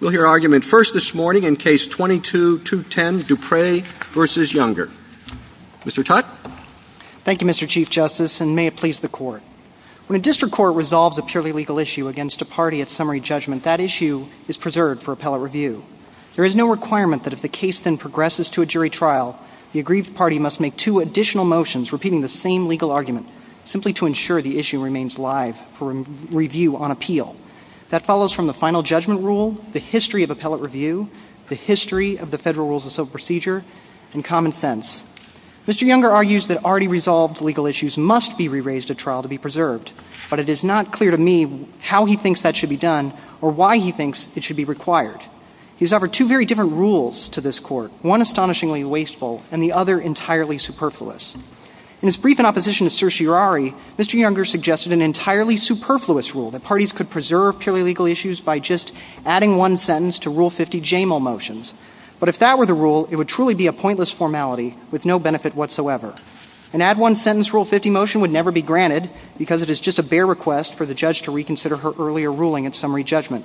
We'll hear argument first this morning in Case 22-210, Dupree v. Younger. Mr. Tutt. Thank you, Mr. Chief Justice, and may it please the Court. When a district court resolves a purely legal issue against a party at summary judgment, that issue is preserved for appellate review. There is no requirement that if the case then progresses to a jury trial, the aggrieved party must make two additional motions repeating the same legal argument, simply to ensure the issue remains live for review on appeal. That follows from the final judgment rule, the history of appellate review, the history of the Federal Rules of Procedure, and common sense. Mr. Younger argues that already resolved legal issues must be re-raised at trial to be preserved, but it is not clear to me how he thinks that should be done or why he thinks it should be required. He has offered two very different rules to this Court, one astonishingly wasteful and the other entirely superfluous. In his brief in opposition to certiorari, Mr. Younger suggested an entirely superfluous rule, that parties could preserve purely legal issues by just adding one sentence to Rule 50 JML motions. But if that were the rule, it would truly be a pointless formality with no benefit whatsoever. An add-one-sentence Rule 50 motion would never be granted because it is just a bare request for the judge to reconsider her earlier ruling at summary judgment.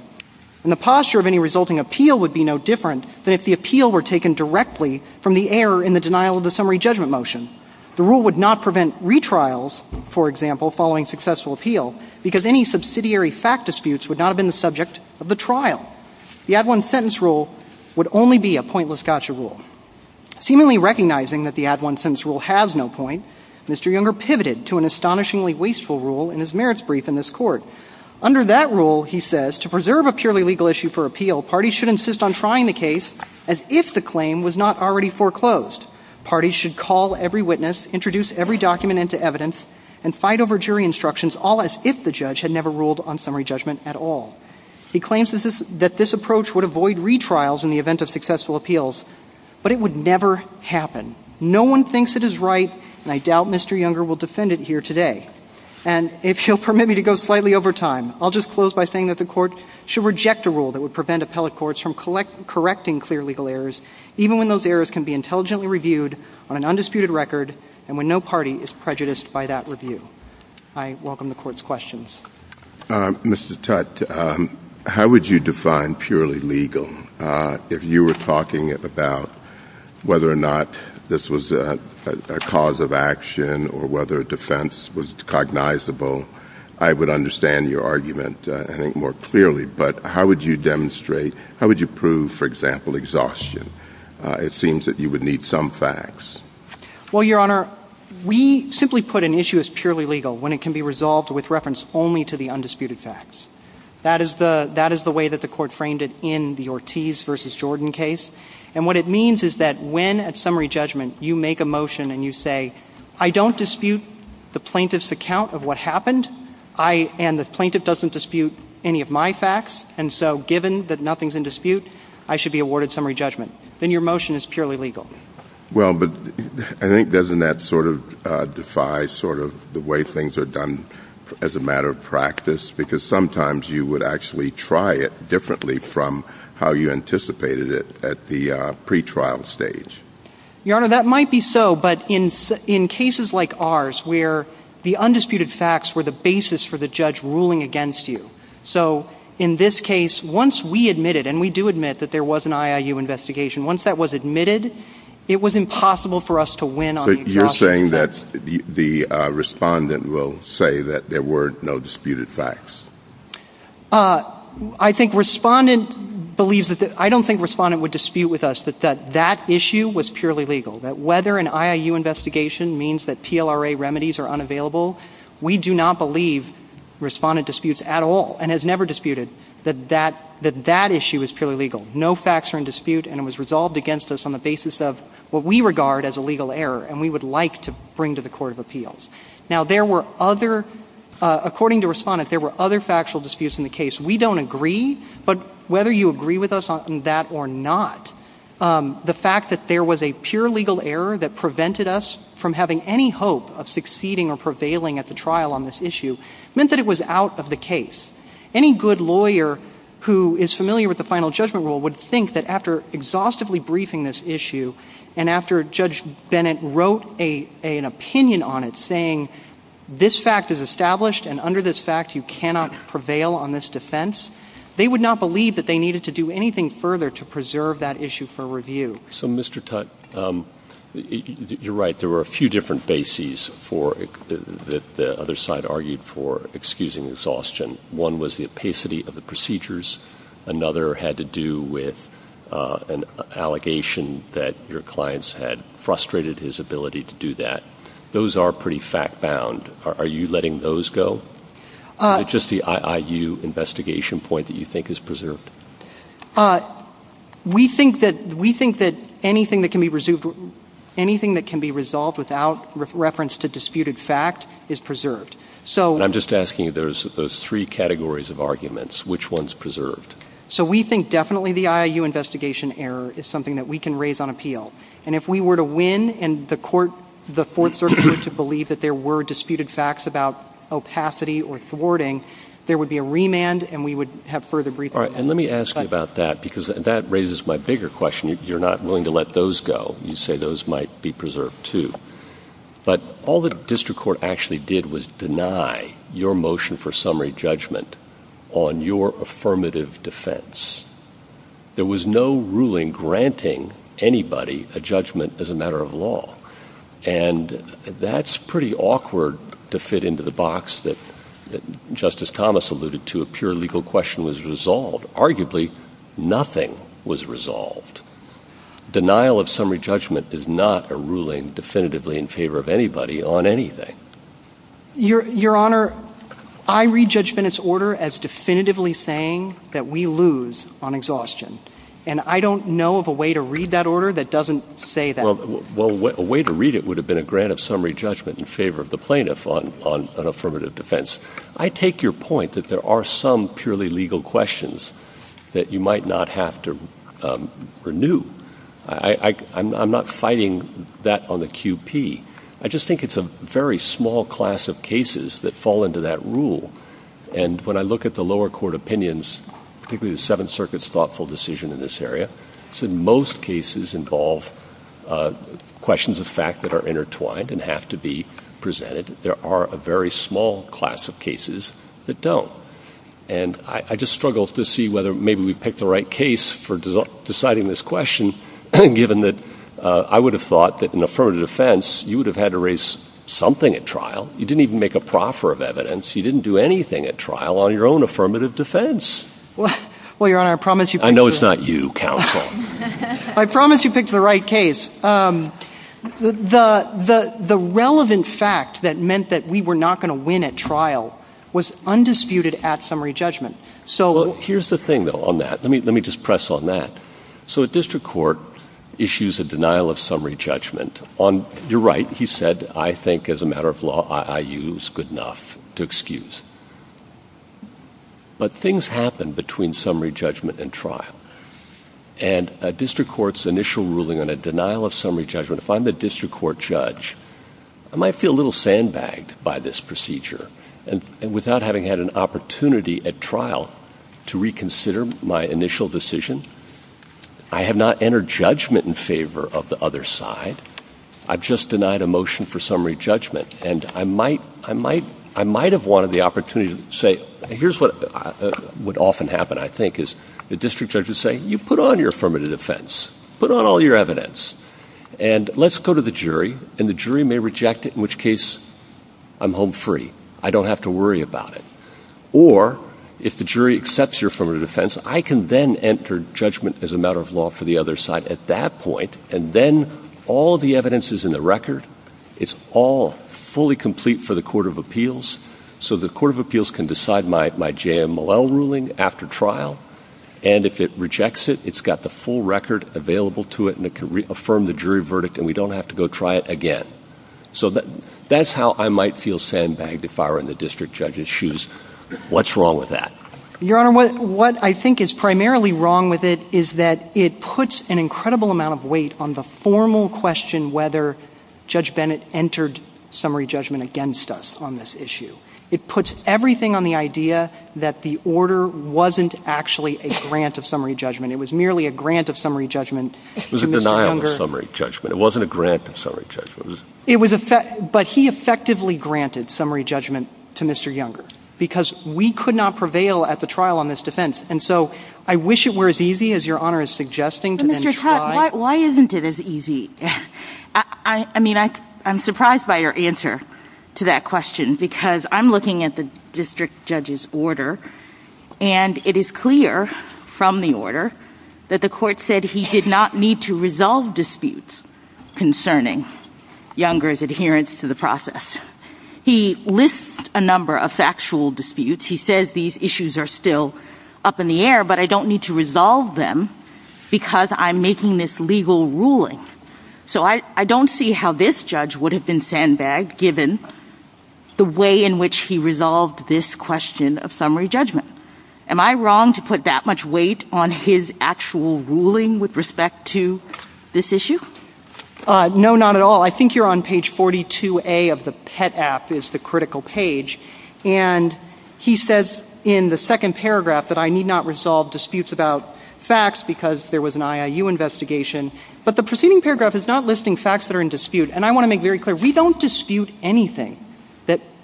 And the posture of any resulting appeal would be no different than if the appeal were taken directly from the error in the denial of the summary judgment motion. The rule would not prevent retrials, for example, following successful appeal because any subsidiary fact disputes would not have been the subject of the trial. The add-one-sentence rule would only be a pointless gotcha rule. Seemingly recognizing that the add-one-sentence rule has no point, Mr. Younger pivoted to an astonishingly wasteful rule in his merits brief in this Court. Under that rule, he says, to preserve a purely legal issue for appeal, parties should insist on trying the case as if the claim was not already foreclosed. Parties should call every witness, introduce every document into evidence, and fight over jury instructions all as if the judge had never ruled on summary judgment at all. He claims that this approach would avoid retrials in the event of successful appeals. But it would never happen. No one thinks it is right, and I doubt Mr. Younger will defend it here today. And if you'll permit me to go slightly over time, I'll just close by saying that the Court should reject a rule that would prevent appellate courts from correcting clear legal errors, even when those errors can be intelligently reviewed on an undisputed record and when no party is prejudiced by that review. I welcome the Court's questions. Mr. Tutte, how would you define purely legal? If you were talking about whether or not this was a cause of action or whether a defense was cognizable, I would understand your argument, I think, more clearly. But how would you demonstrate, how would you prove, for example, exhaustion? It seems that you would need some facts. Well, Your Honor, we simply put an issue as purely legal when it can be resolved with reference only to the undisputed facts. That is the way that the Court framed it in the Ortiz v. Jordan case. And what it means is that when at summary judgment you make a motion and you say, I don't dispute the plaintiff's account of what happened, and the plaintiff doesn't dispute any of my facts, and so given that nothing's in dispute, I should be awarded summary judgment. Then your motion is purely legal. Well, but I think doesn't that sort of defy sort of the way things are done as a matter of practice? Because sometimes you would actually try it differently from how you anticipated it at the pretrial stage. Your Honor, that might be so, but in cases like ours where the undisputed facts were the basis for the judge ruling against you. So in this case, once we admitted, and we do admit that there was an IIU investigation, once that was admitted, it was impossible for us to win on the exhaustion case. So you're saying that the respondent will say that there were no disputed facts? I don't think respondent would dispute with us that that issue was purely legal, that whether an IIU investigation means that PLRA remedies are unavailable. We do not believe respondent disputes at all, and has never disputed that that issue is purely legal. No facts are in dispute, and it was resolved against us on the basis of what we regard as a legal error, and we would like to bring to the court of appeals. Now, there were other – according to respondent, there were other factual disputes in the case. We don't agree, but whether you agree with us on that or not, the fact that there was a pure legal error that prevented us from having any hope of succeeding or prevailing at the trial on this issue meant that it was out of the case. Any good lawyer who is familiar with the final judgment rule would think that after exhaustively briefing this issue and after Judge Bennett wrote an opinion on it saying, this fact is established and under this fact you cannot prevail on this defense, they would not believe that they needed to do anything further to preserve that issue for review. So, Mr. Tutte, you're right. There were a few different bases for – that the other side argued for excusing exhaustion. One was the opacity of the procedures. Another had to do with an allegation that your clients had frustrated his ability to do that. Those are pretty fact-bound. Are you letting those go? Is it just the IIU investigation point that you think is preserved? We think that – we think that anything that can be resolved without reference to disputed fact is preserved. So – And I'm just asking if there's those three categories of arguments, which one's preserved? So we think definitely the IIU investigation error is something that we can raise on appeal. And if we were to win and the court – the Fourth Circuit were to believe that there were disputed facts about opacity or thwarting, there would be a remand and we would have further briefing. All right. And let me ask you about that because that raises my bigger question. You're not willing to let those go. You say those might be preserved too. But all the district court actually did was deny your motion for summary judgment on your affirmative defense. There was no ruling granting anybody a judgment as a matter of law. And that's pretty awkward to fit into the box that Justice Thomas alluded to, a pure legal question was resolved. Arguably, nothing was resolved. Denial of summary judgment is not a ruling definitively in favor of anybody on anything. Your Honor, I read Judge Bennett's order as definitively saying that we lose on exhaustion. And I don't know of a way to read that order that doesn't say that. Well, a way to read it would have been a grant of summary judgment in favor of the plaintiff on affirmative defense. I take your point that there are some purely legal questions that you might not have to renew. I'm not fighting that on the QP. I just think it's a very small class of cases that fall into that rule. And when I look at the lower court opinions, particularly the Seventh Circuit's thoughtful decision in this area, it's in most cases involve questions of fact that are intertwined and have to be presented. There are a very small class of cases that don't. And I just struggle to see whether maybe we've picked the right case for deciding this question, given that I would have thought that in affirmative defense, you would have had to raise something at trial. You didn't even make a proffer of evidence. You didn't do anything at trial on your own affirmative defense. Well, Your Honor, I promise you picked the right case. I know it's not you, counsel. I promise you picked the right case. The relevant fact that meant that we were not going to win at trial was undisputed at summary judgment. Well, here's the thing, though, on that. Let me just press on that. So a district court issues a denial of summary judgment. You're right. He said, I think as a matter of law, I use good enough to excuse. But things happen between summary judgment and trial. And a district court's initial ruling on a denial of summary judgment, if I'm the district court judge, I might feel a little sandbagged by this procedure. And without having had an opportunity at trial to reconsider my initial decision, I have not entered judgment in favor of the other side. I've just denied a motion for summary judgment. And I might have wanted the opportunity to say, here's what would often happen, I think, is the district judge would say, you put on your affirmative defense. Put on all your evidence. And let's go to the jury. And the jury may reject it, in which case I'm home free. I don't have to worry about it. Or if the jury accepts your affirmative defense, I can then enter judgment as a matter of law for the other side at that point. And then all the evidence is in the record. It's all fully complete for the court of appeals. So the court of appeals can decide my J.M. Mallell ruling after trial. And if it rejects it, it's got the full record available to it. And it can reaffirm the jury verdict. And we don't have to go try it again. So that's how I might feel sandbagged if I were in the district judge's shoes. What's wrong with that? Your Honor, what I think is primarily wrong with it is that it puts an incredible amount of weight on the formal question whether Judge Bennett entered summary judgment against us on this issue. It puts everything on the idea that the order wasn't actually a grant of summary judgment. It was merely a grant of summary judgment to Mr. Younger. It was a denial of summary judgment. It wasn't a grant of summary judgment. But he effectively granted summary judgment to Mr. Younger because we could not prevail at the trial on this defense. And so I wish it were as easy as Your Honor is suggesting to then try. But, Mr. Tutt, why isn't it as easy? I mean, I'm surprised by your answer to that question because I'm looking at the district judge's order. And it is clear from the order that the court said he did not need to resolve disputes concerning Younger's adherence to the process. He lists a number of factual disputes. He says these issues are still up in the air, but I don't need to resolve them because I'm making this legal ruling. So I don't see how this judge would have been sandbagged given the way in which he resolved this question of summary judgment. Am I wrong to put that much weight on his actual ruling with respect to this issue? No, not at all. I think you're on page 42A of the PET app is the critical page. And he says in the second paragraph that I need not resolve disputes about facts because there was an IIU investigation. But the preceding paragraph is not listing facts that are in dispute. And I want to make very clear, we don't dispute anything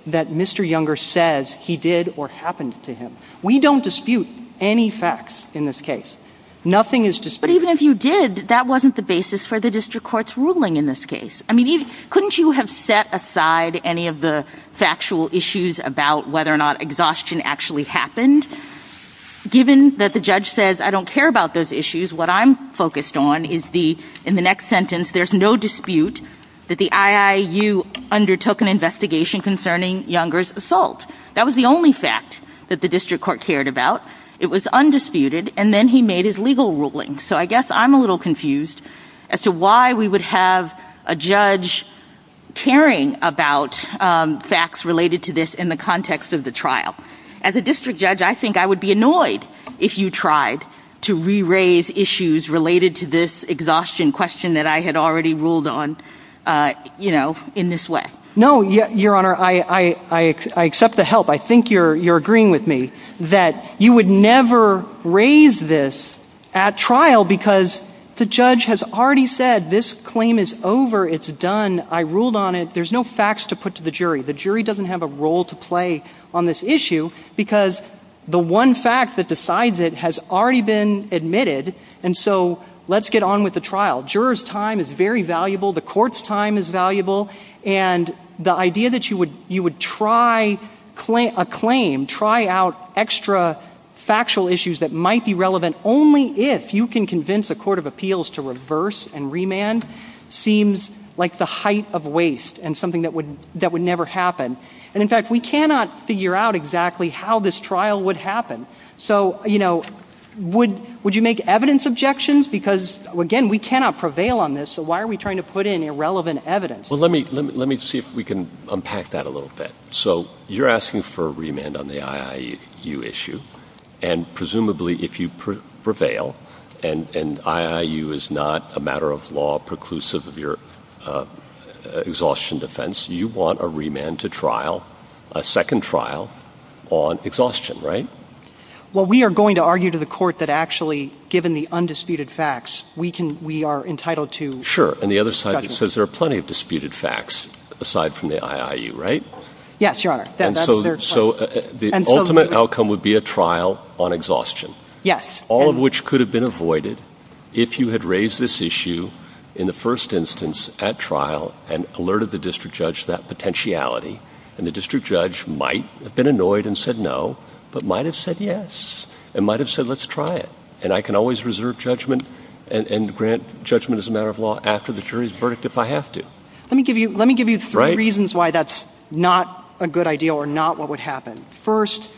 that Mr. Younger says he did or happened to him. We don't dispute any facts in this case. Nothing is disputed. But even if you did, that wasn't the basis for the district court's ruling in this case. I mean, couldn't you have set aside any of the factual issues about whether or not exhaustion actually happened given that the judge says I don't care about those issues. What I'm focused on is the, in the next sentence, there's no dispute that the IIU undertook an investigation concerning Younger's assault. That was the only fact that the district court cared about. It was undisputed. And then he made his legal ruling. So I guess I'm a little confused as to why we would have a judge caring about facts related to this in the context of the trial. As a district judge, I think I would be annoyed if you tried to re-raise issues related to this exhaustion question that I had already ruled on, you know, in this way. No, Your Honor, I accept the help. I think you're agreeing with me that you would never raise this at trial because the judge has already said this claim is over. It's done. I ruled on it. There's no facts to put to the jury. The jury doesn't have a role to play on this issue because the one fact that decides it has already been admitted. And so let's get on with the trial. Juror's time is very valuable. The court's time is valuable. And the idea that you would try a claim, try out extra factual issues that might be relevant only if you can convince a court of appeals to reverse and remand seems like the height of waste and something that would never happen. And, in fact, we cannot figure out exactly how this trial would happen. So, you know, would you make evidence objections? Because, again, we cannot prevail on this, so why are we trying to put in irrelevant evidence? Well, let me see if we can unpack that a little bit. So you're asking for remand on the IIU issue. And, presumably, if you prevail and IIU is not a matter of law preclusive of your exhaustion defense, you want a remand to trial, a second trial on exhaustion, right? Well, we are going to argue to the court that, actually, given the undisputed facts, we are entitled to judgment. Sure. And the other side says there are plenty of disputed facts aside from the IIU, right? Yes, Your Honor. And so the ultimate outcome would be a trial on exhaustion. Yes. All of which could have been avoided if you had raised this issue in the first instance at trial and alerted the district judge to that potentiality. And the district judge might have been annoyed and said no, but might have said yes and might have said let's try it. And I can always reserve judgment and grant judgment as a matter of law after the jury's verdict if I have to. Let me give you three reasons why that's not a good idea or not what would happen. First,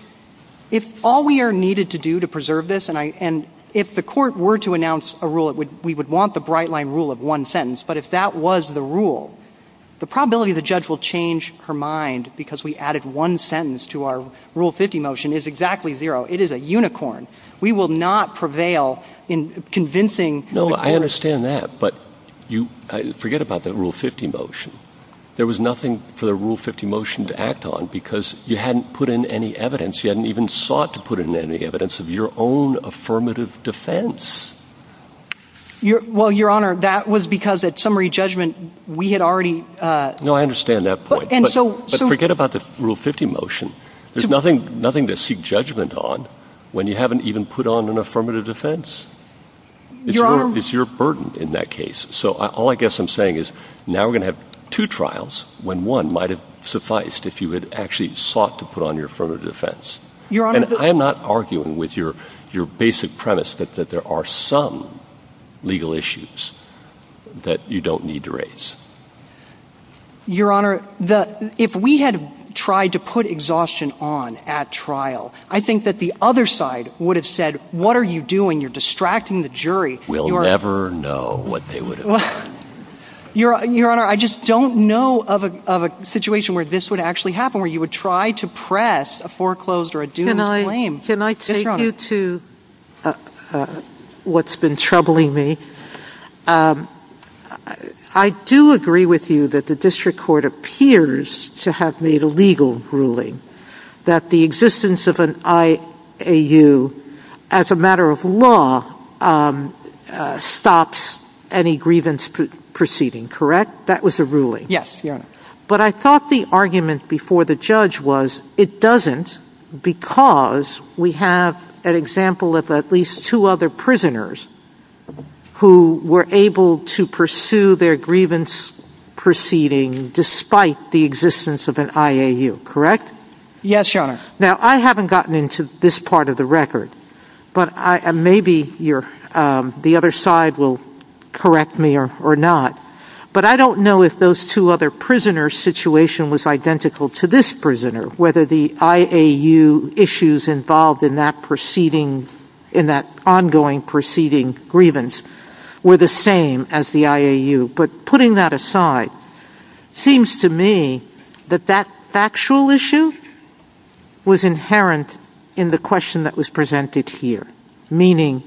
if all we are needed to do to preserve this, and if the court were to announce a rule, we would want the bright-line rule of one sentence. But if that was the rule, the probability the judge will change her mind because we added one sentence to our Rule 50 motion is exactly zero. It is a unicorn. We will not prevail in convincing. No, I understand that. But forget about the Rule 50 motion. There was nothing for the Rule 50 motion to act on because you hadn't put in any evidence. You hadn't even sought to put in any evidence of your own affirmative defense. Well, Your Honor, that was because at summary judgment we had already. No, I understand that point. But forget about the Rule 50 motion. There's nothing to seek judgment on when you haven't even put on an affirmative defense. Your Honor. It's your burden in that case. So all I guess I'm saying is now we're going to have two trials when one might have sufficed if you had actually sought to put on your affirmative defense. Your Honor. And I am not arguing with your basic premise that there are some legal issues that you don't need to raise. Your Honor, if we had tried to put exhaustion on at trial, I think that the other side would have said, what are you doing? You're distracting the jury. We'll never know what they would have done. Your Honor, I just don't know of a situation where this would actually happen, where you would try to press a foreclosed or a doomed claim. Can I take you to what's been troubling me? I do agree with you that the district court appears to have made a legal ruling that the existence of an IAU as a matter of law stops any grievance proceeding. Correct? That was a ruling. Yes, Your Honor. But I thought the argument before the judge was it doesn't because we have an example of at least two other prisoners who were able to pursue their grievance proceeding despite the existence of an IAU. Correct? Yes, Your Honor. Now, I haven't gotten into this part of the record, but maybe the other side will correct me or not. But I don't know if those two other prisoners' situation was identical to this prisoner, whether the IAU issues involved in that ongoing proceeding grievance were the same as the IAU. But putting that aside, it seems to me that that factual issue was inherent in the question that was presented here, meaning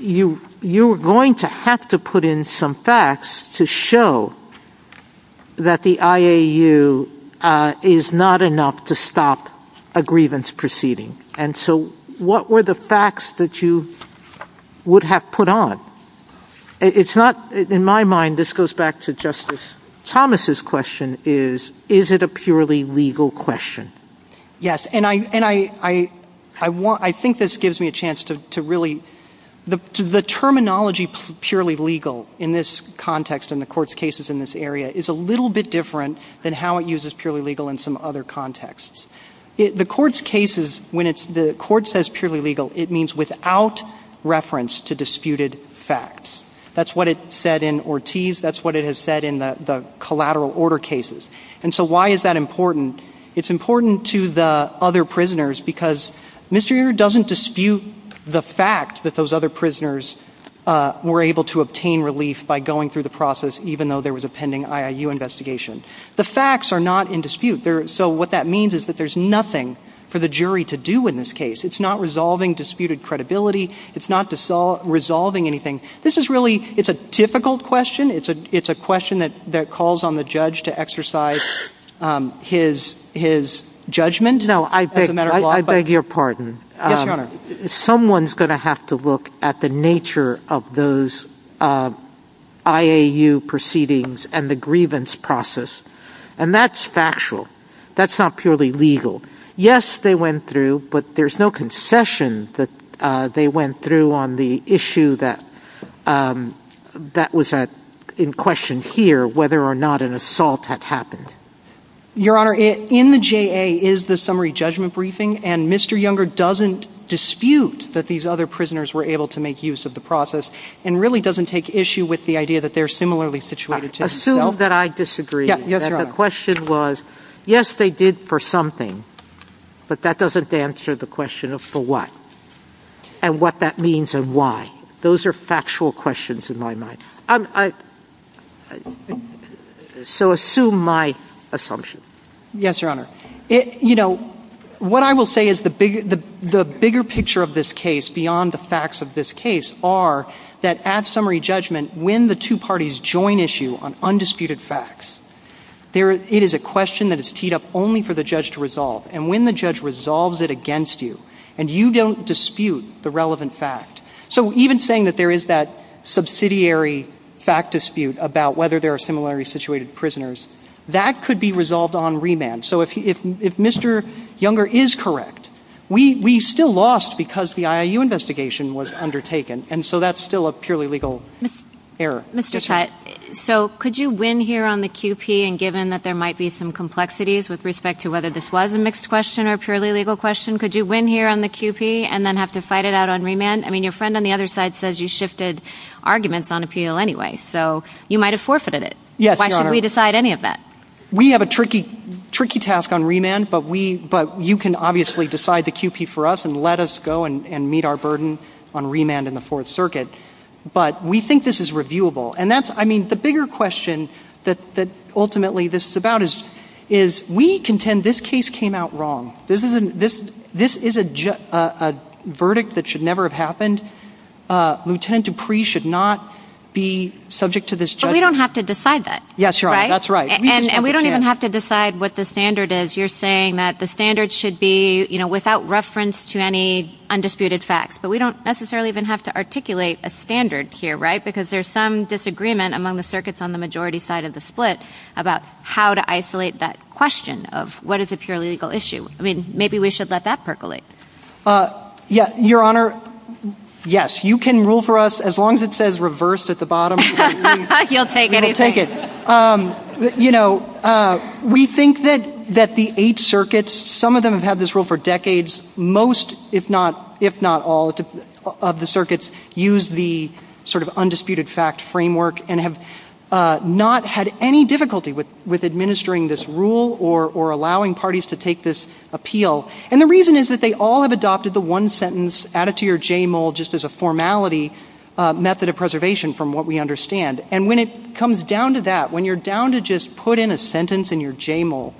you're going to have to put in some facts to show that the IAU is not enough to stop a grievance proceeding. And so what were the facts that you would have put on? It's not, in my mind, this goes back to Justice Thomas' question is, is it a purely legal question? Yes. And I think this gives me a chance to really, the terminology purely legal in this context in the court's cases in this area is a little bit different than how it uses purely legal in some other contexts. The court's cases, when the court says purely legal, it means without reference to disputed facts. That's what it said in Ortiz. That's what it has said in the collateral order cases. And so why is that important? It's important to the other prisoners because Mr. Ure doesn't dispute the fact that those other prisoners were able to obtain relief by going through the process even though there was a pending IAU investigation. The facts are not in dispute. So what that means is that there's nothing for the jury to do in this case. It's not resolving disputed credibility. It's not resolving anything. This is really, it's a difficult question. It's a question that calls on the judge to exercise his judgment as a matter of law. No, I beg your pardon. Yes, Your Honor. Someone's going to have to look at the nature of those IAU proceedings and the grievance process. And that's factual. That's not purely legal. Yes, they went through. But there's no concession that they went through on the issue that was in question here, whether or not an assault had happened. Your Honor, in the JA is the summary judgment briefing. And Mr. Ure doesn't dispute that these other prisoners were able to make use of the process and really doesn't take issue with the idea that they're similarly situated Assume that I disagree. Yes, Your Honor. The question was, yes, they did for something, but that doesn't answer the question of for what and what that means and why. Those are factual questions in my mind. So assume my assumption. Yes, Your Honor. You know, what I will say is the bigger picture of this case beyond the facts of this case are that at summary judgment, when the two parties join issue on undisputed facts, it is a question that is teed up only for the judge to resolve. And when the judge resolves it against you and you don't dispute the relevant fact, so even saying that there is that subsidiary fact dispute about whether there are similarly situated prisoners, that could be resolved on remand. So if Mr. Younger is correct, we still lost because the IAU investigation was undertaken. And so that's still a purely legal error. Mr. Cutt, so could you win here on the QP and given that there might be some complexities with respect to whether this was a mixed question or a purely legal question, could you win here on the QP and then have to fight it out on remand? I mean, your friend on the other side says you shifted arguments on appeal anyway, so you might have forfeited it. Yes, Your Honor. Why should we decide any of that? We have a tricky task on remand, but you can obviously decide the QP for us and let us go and meet our burden on remand in the Fourth Circuit. But we think this is reviewable. And that's, I mean, the bigger question that ultimately this is about is we contend this case came out wrong. This is a verdict that should never have happened. Lieutenant Dupree should not be subject to this judgment. But we don't have to decide that. Yes, Your Honor. That's right. And we don't even have to decide what the standard is. You're saying that the standard should be without reference to any undisputed facts, but we don't necessarily even have to articulate a standard here, right? Because there's some disagreement among the circuits on the majority side of the split about how to isolate that question of what is a purely legal issue. I mean, maybe we should let that percolate. Your Honor, yes. You can rule for us as long as it says reversed at the bottom. You'll take anything. We'll take it. You know, we think that the eight circuits, some of them have had this rule for decades. Most, if not all, of the circuits use the sort of undisputed fact framework and have not had any difficulty with administering this rule or allowing parties to take this appeal. And the reason is that they all have adopted the one sentence added to your JMOL just as a formality method of preservation from what we understand. And when it comes down to that, when you're down to just put in a sentence in your JMOL,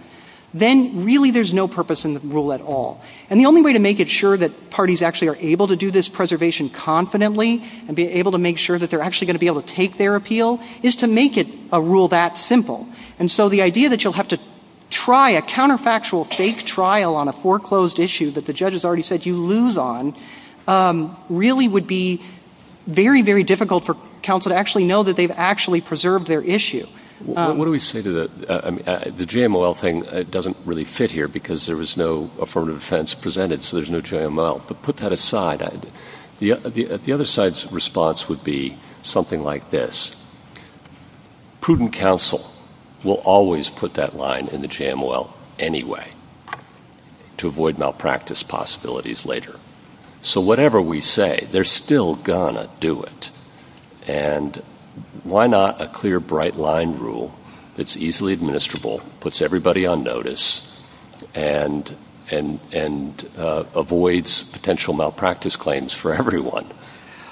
then really there's no purpose in the rule at all. And the only way to make it sure that parties actually are able to do this preservation confidently and be able to make sure that they're actually going to be able to take their appeal is to make it a rule that simple. And so the idea that you'll have to try a counterfactual fake trial on a foreclosed issue that the judge has already said you lose on really would be very, very difficult for counsel to actually know that they've actually preserved their issue. What do we say to that? The JMOL thing doesn't really fit here because there was no affirmative defense presented, so there's no JMOL. But put that aside. The other side's response would be something like this. Prudent counsel will always put that line in the JMOL anyway to avoid malpractice possibilities later. So whatever we say, they're still going to do it. And why not a clear, bright line rule that's easily administrable, puts everybody on notice, and avoids potential malpractice claims for everyone?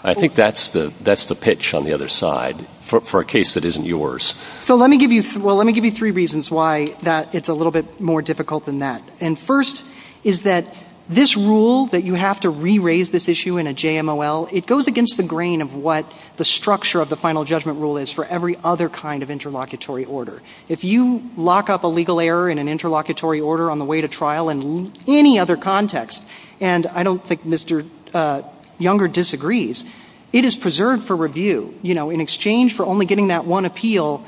I think that's the pitch on the other side for a case that isn't yours. So let me give you three reasons why it's a little bit more difficult than that. And first is that this rule that you have to re-raise this issue in a JMOL, it goes against the grain of what the structure of the final judgment rule is for every other kind of interlocutory order. If you lock up a legal error in an interlocutory order on the way to trial in any other context, and I don't think Mr. Younger disagrees, it is preserved for review. You know, in exchange for only getting that one appeal,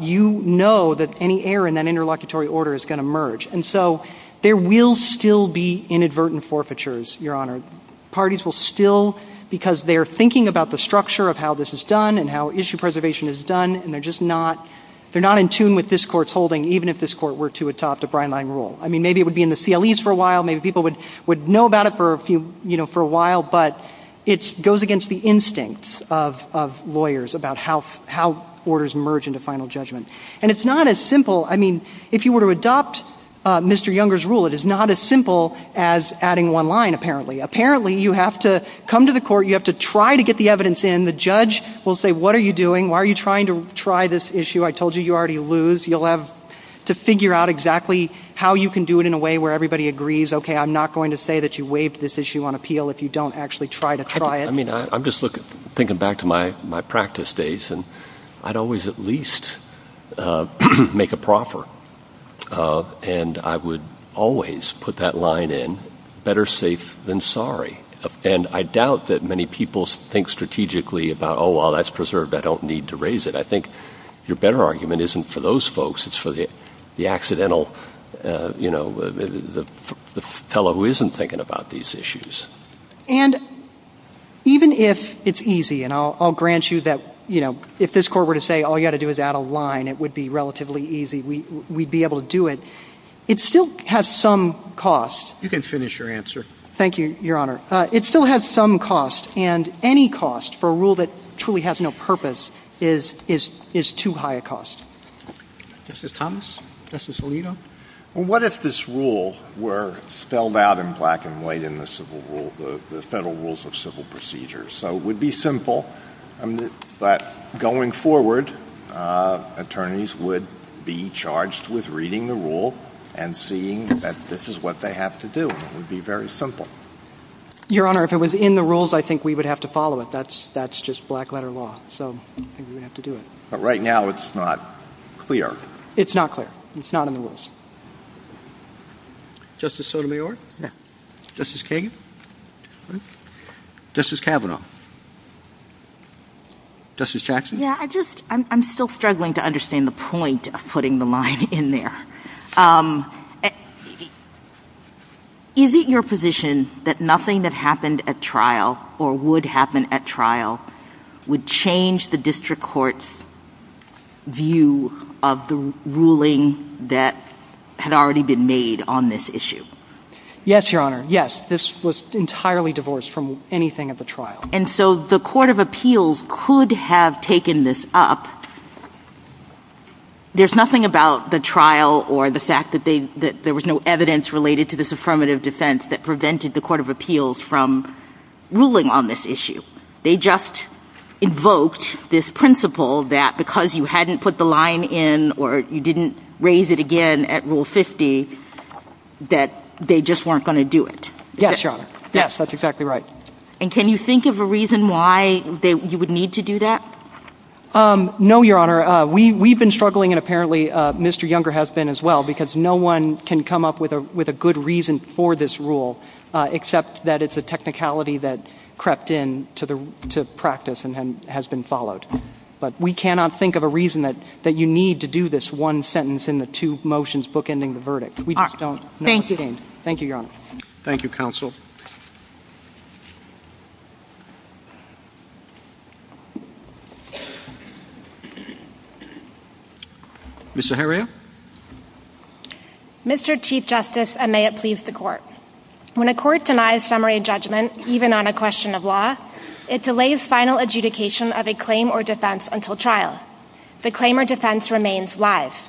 you know that any error in that interlocutory order is going to merge. And so there will still be inadvertent forfeitures, Your Honor. Parties will still, because they're thinking about the structure of how this is done and how issue preservation is done, and they're just not in tune with this Court's holding, even if this Court were to adopt a brine line rule. I mean, maybe it would be in the CLEs for a while. Maybe people would know about it for a while. But it goes against the instincts of lawyers about how orders merge into final judgment. And it's not as simple. I mean, if you were to adopt Mr. Younger's rule, it is not as simple as adding one line, apparently. Apparently, you have to come to the Court, you have to try to get the evidence in. The judge will say, what are you doing? Why are you trying to try this issue? I told you you already lose. You'll have to figure out exactly how you can do it in a way where everybody agrees, okay, I'm not going to say that you waived this issue on appeal if you don't actually try to try it. I mean, I'm just thinking back to my practice days, and I'd always at least make a proffer. And I would always put that line in, better safe than sorry. And I doubt that many people think strategically about, oh, well, that's preserved. I don't need to raise it. I think your better argument isn't for those folks. It's for the accidental, you know, the fellow who isn't thinking about these issues. And even if it's easy, and I'll grant you that, you know, if this Court were to say all you have to do is add a line, it would be relatively easy. We'd be able to do it. It still has some cost. You can finish your answer. Thank you, Your Honor. It still has some cost. And any cost for a rule that truly has no purpose is too high a cost. Justice Thomas? Justice Alito? Well, what if this rule were spelled out in black and white in the civil rule, the Federal Rules of Civil Procedure? So it would be simple. But going forward, attorneys would be charged with reading the rule and seeing that this is what they have to do. It would be very simple. Your Honor, if it was in the rules, I think we would have to follow it. That's just black letter law. So I think we would have to do it. But right now it's not clear. It's not clear. It's not in the rules. Justice Sotomayor? Yeah. Justice Kagan? Justice Kavanaugh? Justice Jackson? Yeah. I'm still struggling to understand the point of putting the line in there. Is it your position that nothing that happened at trial or would happen at trial would change the district court's view of the ruling that had already been made on this issue? Yes, Your Honor. Yes, this was entirely divorced from anything at the trial. And so the court of appeals could have taken this up. There's nothing about the trial or the fact that there was no evidence related to this affirmative defense that prevented the court of appeals from ruling on this issue. They just invoked this principle that because you hadn't put the line in or you didn't raise it again at Rule 50 that they just weren't going to do it. Yes, Your Honor. Yes, that's exactly right. And can you think of a reason why you would need to do that? No, Your Honor. We've been struggling, and apparently Mr. Younger has been as well, because no one can come up with a good reason for this rule except that it's a technicality that crept in to practice and has been followed. But we cannot think of a reason that you need to do this one sentence in the two motions book-ending the verdict. We just don't know what's gained. Thank you. Thank you, Your Honor. Thank you, Counsel. Ms. Zaharia. Mr. Chief Justice, and may it please the Court. When a court denies summary judgment, even on a question of law, it delays final adjudication of a claim or defense until trial. The claim or defense remains live.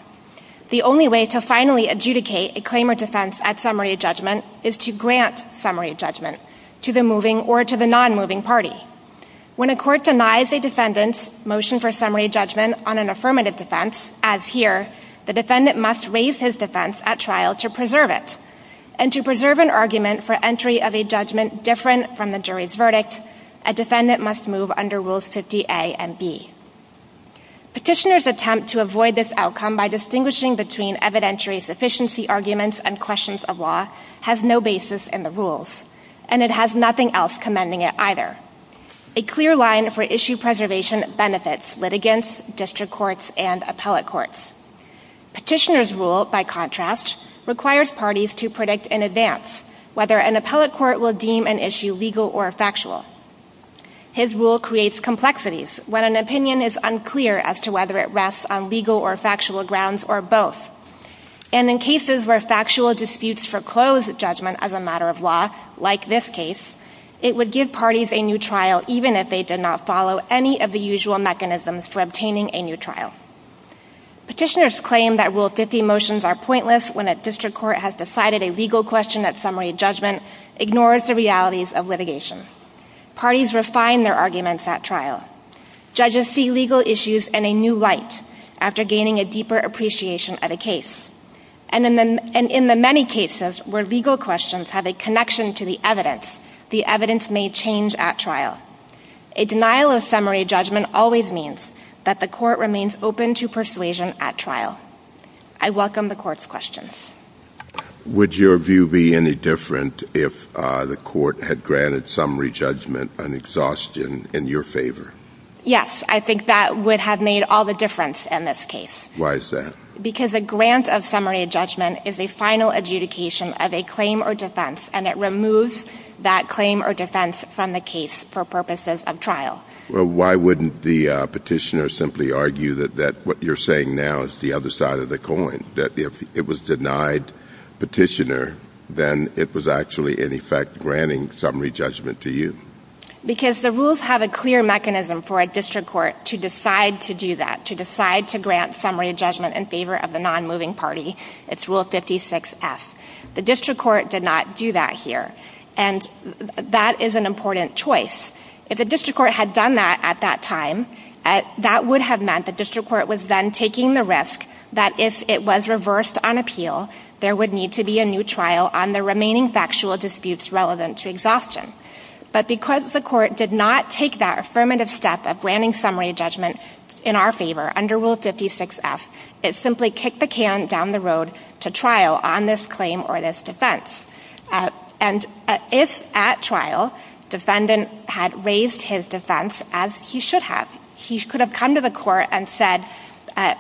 The only way to finally adjudicate a claim or defense at summary judgment is to grant summary judgment to the moving or to the non-moving party. When a court denies a defendant's motion for summary judgment on an affirmative defense, as here, the defendant must raise his defense at trial to preserve it. And to preserve an argument for entry of a judgment different from the jury's rules 50A and B. Petitioners' attempt to avoid this outcome by distinguishing between evidentiary sufficiency arguments and questions of law has no basis in the rules. And it has nothing else commending it either. A clear line for issue preservation benefits litigants, district courts, and appellate courts. Petitioners' rule, by contrast, requires parties to predict in advance whether an appellate court will deem an issue legal or factual. His rule creates complexities when an opinion is unclear as to whether it rests on legal or factual grounds or both. And in cases where factual disputes foreclose judgment as a matter of law, like this case, it would give parties a new trial even if they did not follow any of the usual mechanisms for obtaining a new trial. Petitioners' claim that Rule 50 motions are pointless when a district court has refined their arguments at trial. Judges see legal issues in a new light after gaining a deeper appreciation of the case. And in the many cases where legal questions have a connection to the evidence, the evidence may change at trial. A denial of summary judgment always means that the court remains open to persuasion at trial. I welcome the court's questions. Would your view be any different if the court had granted summary judgment an exhaustion in your favor? Yes. I think that would have made all the difference in this case. Why is that? Because a grant of summary judgment is a final adjudication of a claim or defense and it removes that claim or defense from the case for purposes of trial. Well, why wouldn't the petitioner simply argue that what you're saying now is the other side of the coin, that if it was denied petitioner, then it was actually in effect granting summary judgment to you? Because the rules have a clear mechanism for a district court to decide to do that, to decide to grant summary judgment in favor of the non-moving party. It's Rule 56F. The district court did not do that here. And that is an important choice. If the district court had done that at that time, that would have meant the district court would have said that if it was reversed on appeal, there would need to be a new trial on the remaining factual disputes relevant to exhaustion. But because the court did not take that affirmative step of granting summary judgment in our favor under Rule 56F, it simply kicked the can down the road to trial on this claim or this defense. And if at trial defendant had raised his defense, as he should have, he could have come to the court and said, I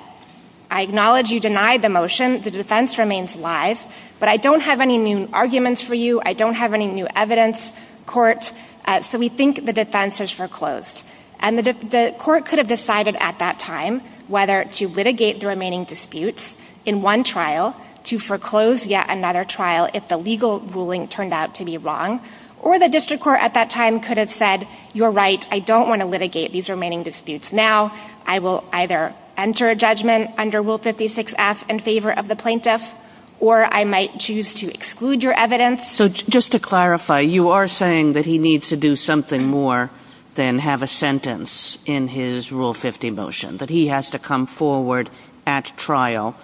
acknowledge you denied the motion. The defense remains live. But I don't have any new arguments for you. I don't have any new evidence, court. So we think the defense is foreclosed. And the court could have decided at that time whether to litigate the remaining disputes in one trial, to foreclose yet another trial if the legal ruling turned out to be wrong, or the district court at that time could have said, you're right, I don't want to litigate these remaining disputes now. I will either enter a judgment under Rule 56F in favor of the plaintiff, or I might choose to exclude your evidence. So just to clarify, you are saying that he needs to do something more than have a sentence in his Rule 50 motion, that he has to come forward at trial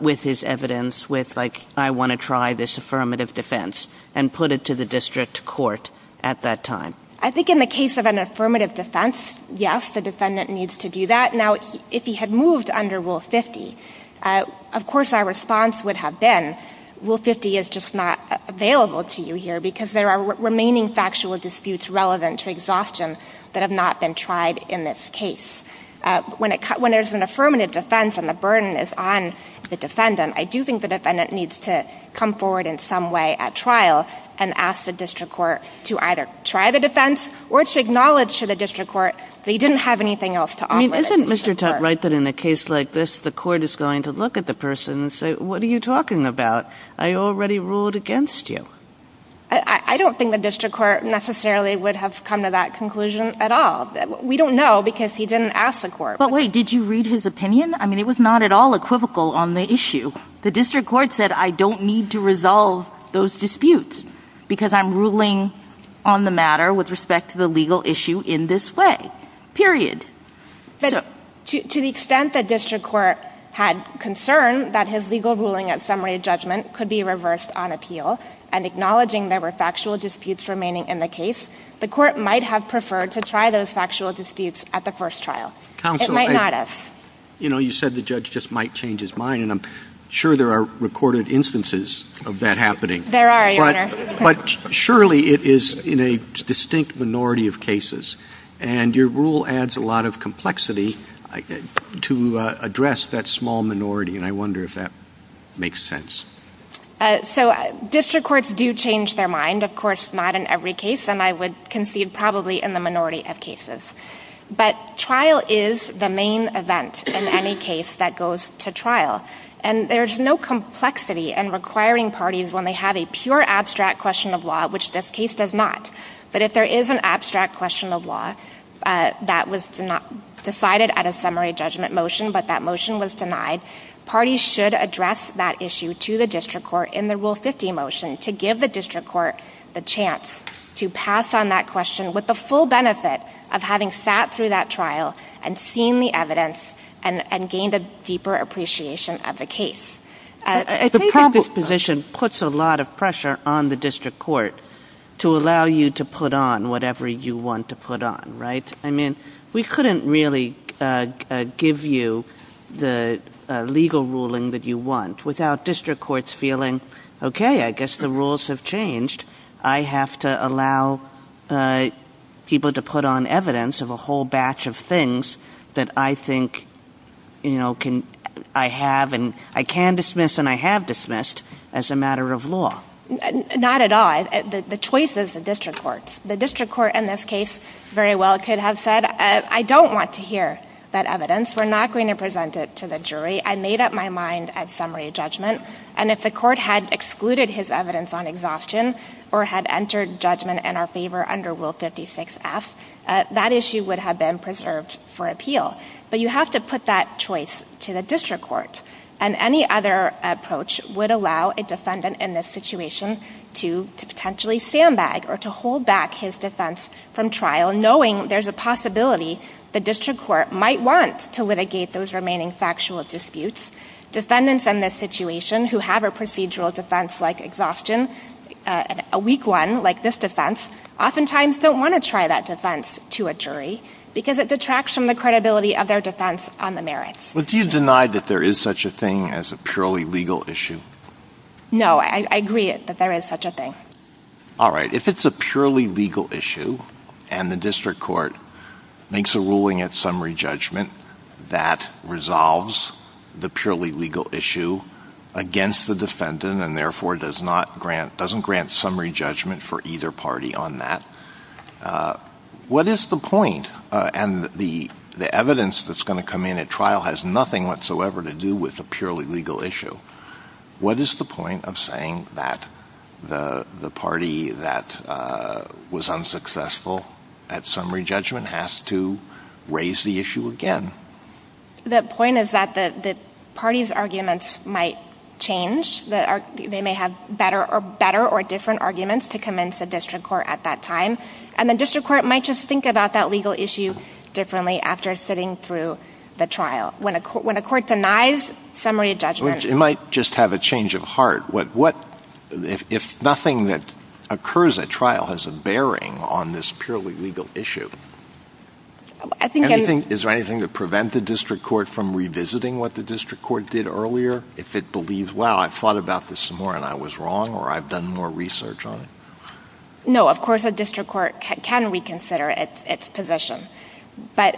with his evidence, with like, I want to try this affirmative defense, and put it to the district court at that time? I think in the case of an affirmative defense, yes, the defendant needs to do that. Now, if he had moved under Rule 50, of course our response would have been, Rule 50 is just not available to you here because there are remaining factual disputes relevant to exhaustion that have not been tried in this case. When there's an affirmative defense and the burden is on the defendant, I do think the defendant needs to come forward in some way at trial and ask the district court to either try the defense or to acknowledge to the district court that he didn't have anything else to offer the district court. I mean, isn't Mr. Tutte right that in a case like this, the court is going to look at the person and say, what are you talking about? I already ruled against you. I don't think the district court necessarily would have come to that conclusion at all. We don't know because he didn't ask the court. But wait, did you read his opinion? I mean, it was not at all equivocal on the issue. The district court said, I don't need to resolve those disputes because I'm ruling on the matter with respect to the legal issue in this way, period. To the extent that district court had concern that his legal ruling at summary judgment could be reversed on appeal and acknowledging there were factual disputes remaining in the case, the court might have preferred to try those factual disputes at the first trial. It might not have. You know, you said the judge just might change his mind. And I'm sure there are recorded instances of that happening. There are, Your Honor. But surely it is in a distinct minority of cases. And your rule adds a lot of complexity to address that small minority. And I wonder if that makes sense. So district courts do change their mind. Of course, not in every case. And I would concede probably in the minority of cases. But trial is the main event in any case that goes to trial. And there's no complexity in requiring parties when they have a pure abstract question of law, which this case does not. But if there is an abstract question of law that was decided at a summary judgment motion, but that motion was denied, parties should address that issue to the district court in the Rule 50 motion to give the district court the chance to pass on that question with the full benefit of having sat through that trial and seen the evidence and gained a deeper appreciation of the case. I think this position puts a lot of pressure on the district court to allow you to put on whatever you want to put on, right? I mean, we couldn't really give you the legal ruling that you want without district courts feeling, okay, I guess the rules have changed. I have to allow people to put on evidence of a whole batch of things that I think I have and I can dismiss and I have dismissed as a matter of law. Not at all. The choice is the district court's. The district court in this case very well could have said, I don't want to hear that evidence. We're not going to present it to the jury. I made up my mind at summary judgment and if the court had excluded his evidence on exhaustion or had entered judgment in our favor under Rule 56F, that issue would have been preserved for appeal. But you have to put that choice to the district court and any other approach would allow a defendant in this situation to potentially sandbag or to hold back his defense from trial knowing there's a possibility the district court might want to litigate those remaining factual disputes. Defendants in this situation who have a procedural defense like exhaustion, a weak one like this defense, oftentimes don't want to try that defense to a jury because it detracts from the credibility of their defense on the merits. But do you deny that there is such a thing as a purely legal issue? No. I agree that there is such a thing. All right. If it's a purely legal issue and the district court makes a ruling at summary judgment that resolves the purely legal issue against the defendant and therefore doesn't grant summary judgment for either party on that, what is the point? And the evidence that's going to come in at trial has nothing whatsoever to do with a purely legal issue. What is the point of saying that the party that was unsuccessful at summary judgment has to raise the issue again? The point is that the party's arguments might change. They may have better or different arguments to commence a district court at that time. And the district court might just think about that legal issue differently after sitting through the trial. When a court denies summary judgment. It might just have a change of heart. If nothing that occurs at trial has a bearing on this purely legal issue, is there anything to prevent the district court from revisiting what the district court did earlier? If it believes, wow, I've thought about this some more and I was wrong or I've done more research on it? No. Of course a district court can reconsider its position. But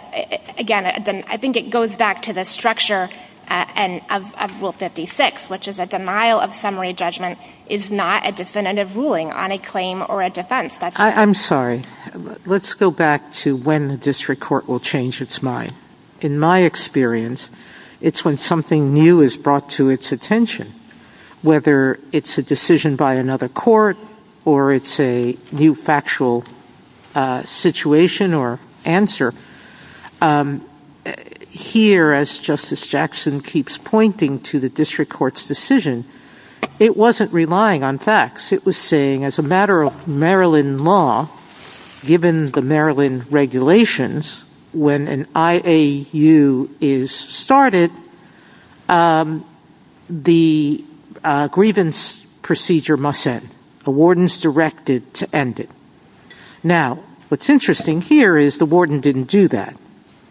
again, I think it goes back to the structure of rule 56, which is a denial of summary judgment is not a definitive ruling on a claim or a defense. I'm sorry. Let's go back to when the district court will change its mind. In my experience, it's when something new is brought to its attention. Whether it's a decision by another court or it's a new factual situation or a new answer, here as Justice Jackson keeps pointing to the district court's decision, it wasn't relying on facts. It was saying as a matter of Maryland law, given the Maryland regulations, when an IAU is started, the grievance procedure must end. The warden's directed to end it. Now, what's interesting here is the warden didn't do that.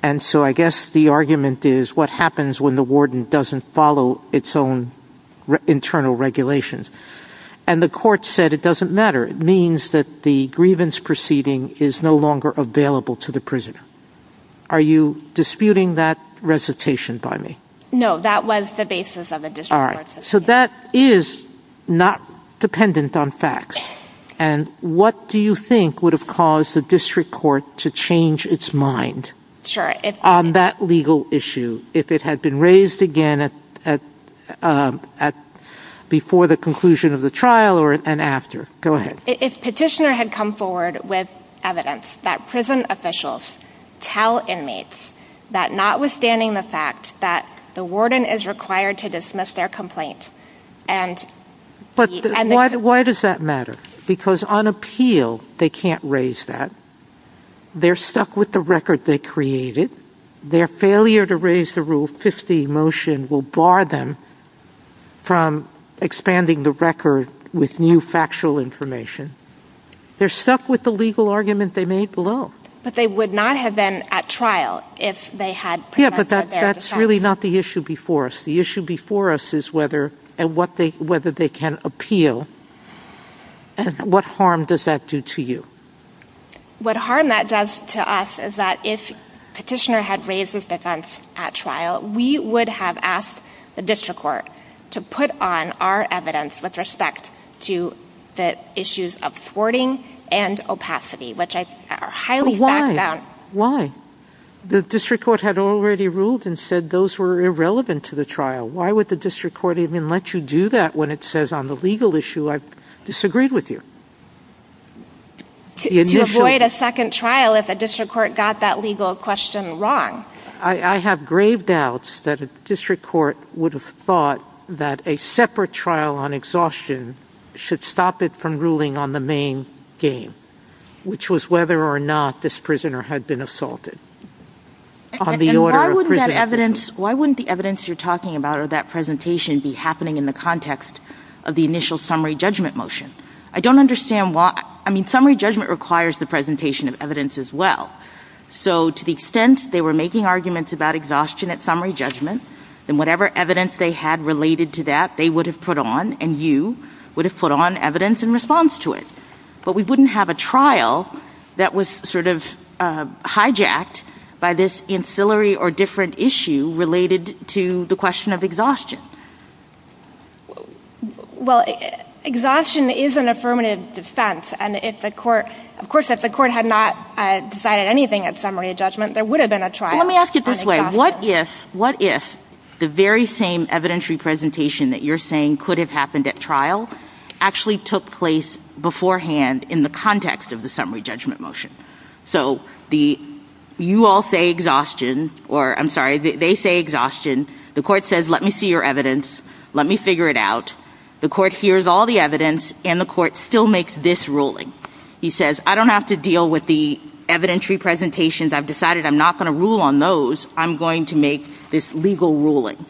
And so I guess the argument is what happens when the warden doesn't follow its own internal regulations? And the court said it doesn't matter. It means that the grievance proceeding is no longer available to the prisoner. Are you disputing that recitation by me? No. That was the basis of the district court's decision. All right. So that is not dependent on facts. And what do you think would have caused the district court to change its mind on that legal issue if it had been raised again before the conclusion of the trial and after? Go ahead. If Petitioner had come forward with evidence that prison officials tell inmates that notwithstanding the fact that the warden is required to dismiss their Because on appeal, they can't raise that. They're stuck with the record they created. Their failure to raise the Rule 50 motion will bar them from expanding the record with new factual information. They're stuck with the legal argument they made below. But they would not have been at trial if they had prevented their dismissal. Yeah, but that's really not the issue before us. The issue before us is whether they can appeal. And what harm does that do to you? What harm that does to us is that if Petitioner had raised this defense at trial, we would have asked the district court to put on our evidence with respect to the issues of thwarting and opacity, which I highly back down. Why? Why? Because the district court had already ruled and said those were irrelevant to the trial. Why would the district court even let you do that when it says on the legal issue I've disagreed with you? To avoid a second trial if a district court got that legal question wrong. I have grave doubts that a district court would have thought that a separate trial on exhaustion should stop it from ruling on the main game, which was whether or not this prisoner had been assaulted on the order of prison. And why wouldn't the evidence you're talking about or that presentation be happening in the context of the initial summary judgment motion? I don't understand why. I mean, summary judgment requires the presentation of evidence as well. So to the extent they were making arguments about exhaustion at summary judgment, then whatever evidence they had related to that, they would have put on and you would have put on evidence in response to it. But we wouldn't have a trial that was sort of hijacked by this ancillary or different issue related to the question of exhaustion. Well, exhaustion is an affirmative defense. And if the court, of course, if the court had not decided anything at summary judgment, there would have been a trial. Let me ask it this way. What if, what if the very same evidentiary presentation that you're saying could have happened at trial actually took place beforehand in the context of the summary judgment motion? So the, you all say exhaustion, or I'm sorry, they say exhaustion. The court says, let me see your evidence. Let me figure it out. The court hears all the evidence and the court still makes this ruling. He says, I don't have to deal with the evidentiary presentations. I've decided I'm not going to rule on those. I'm going to make this legal ruling.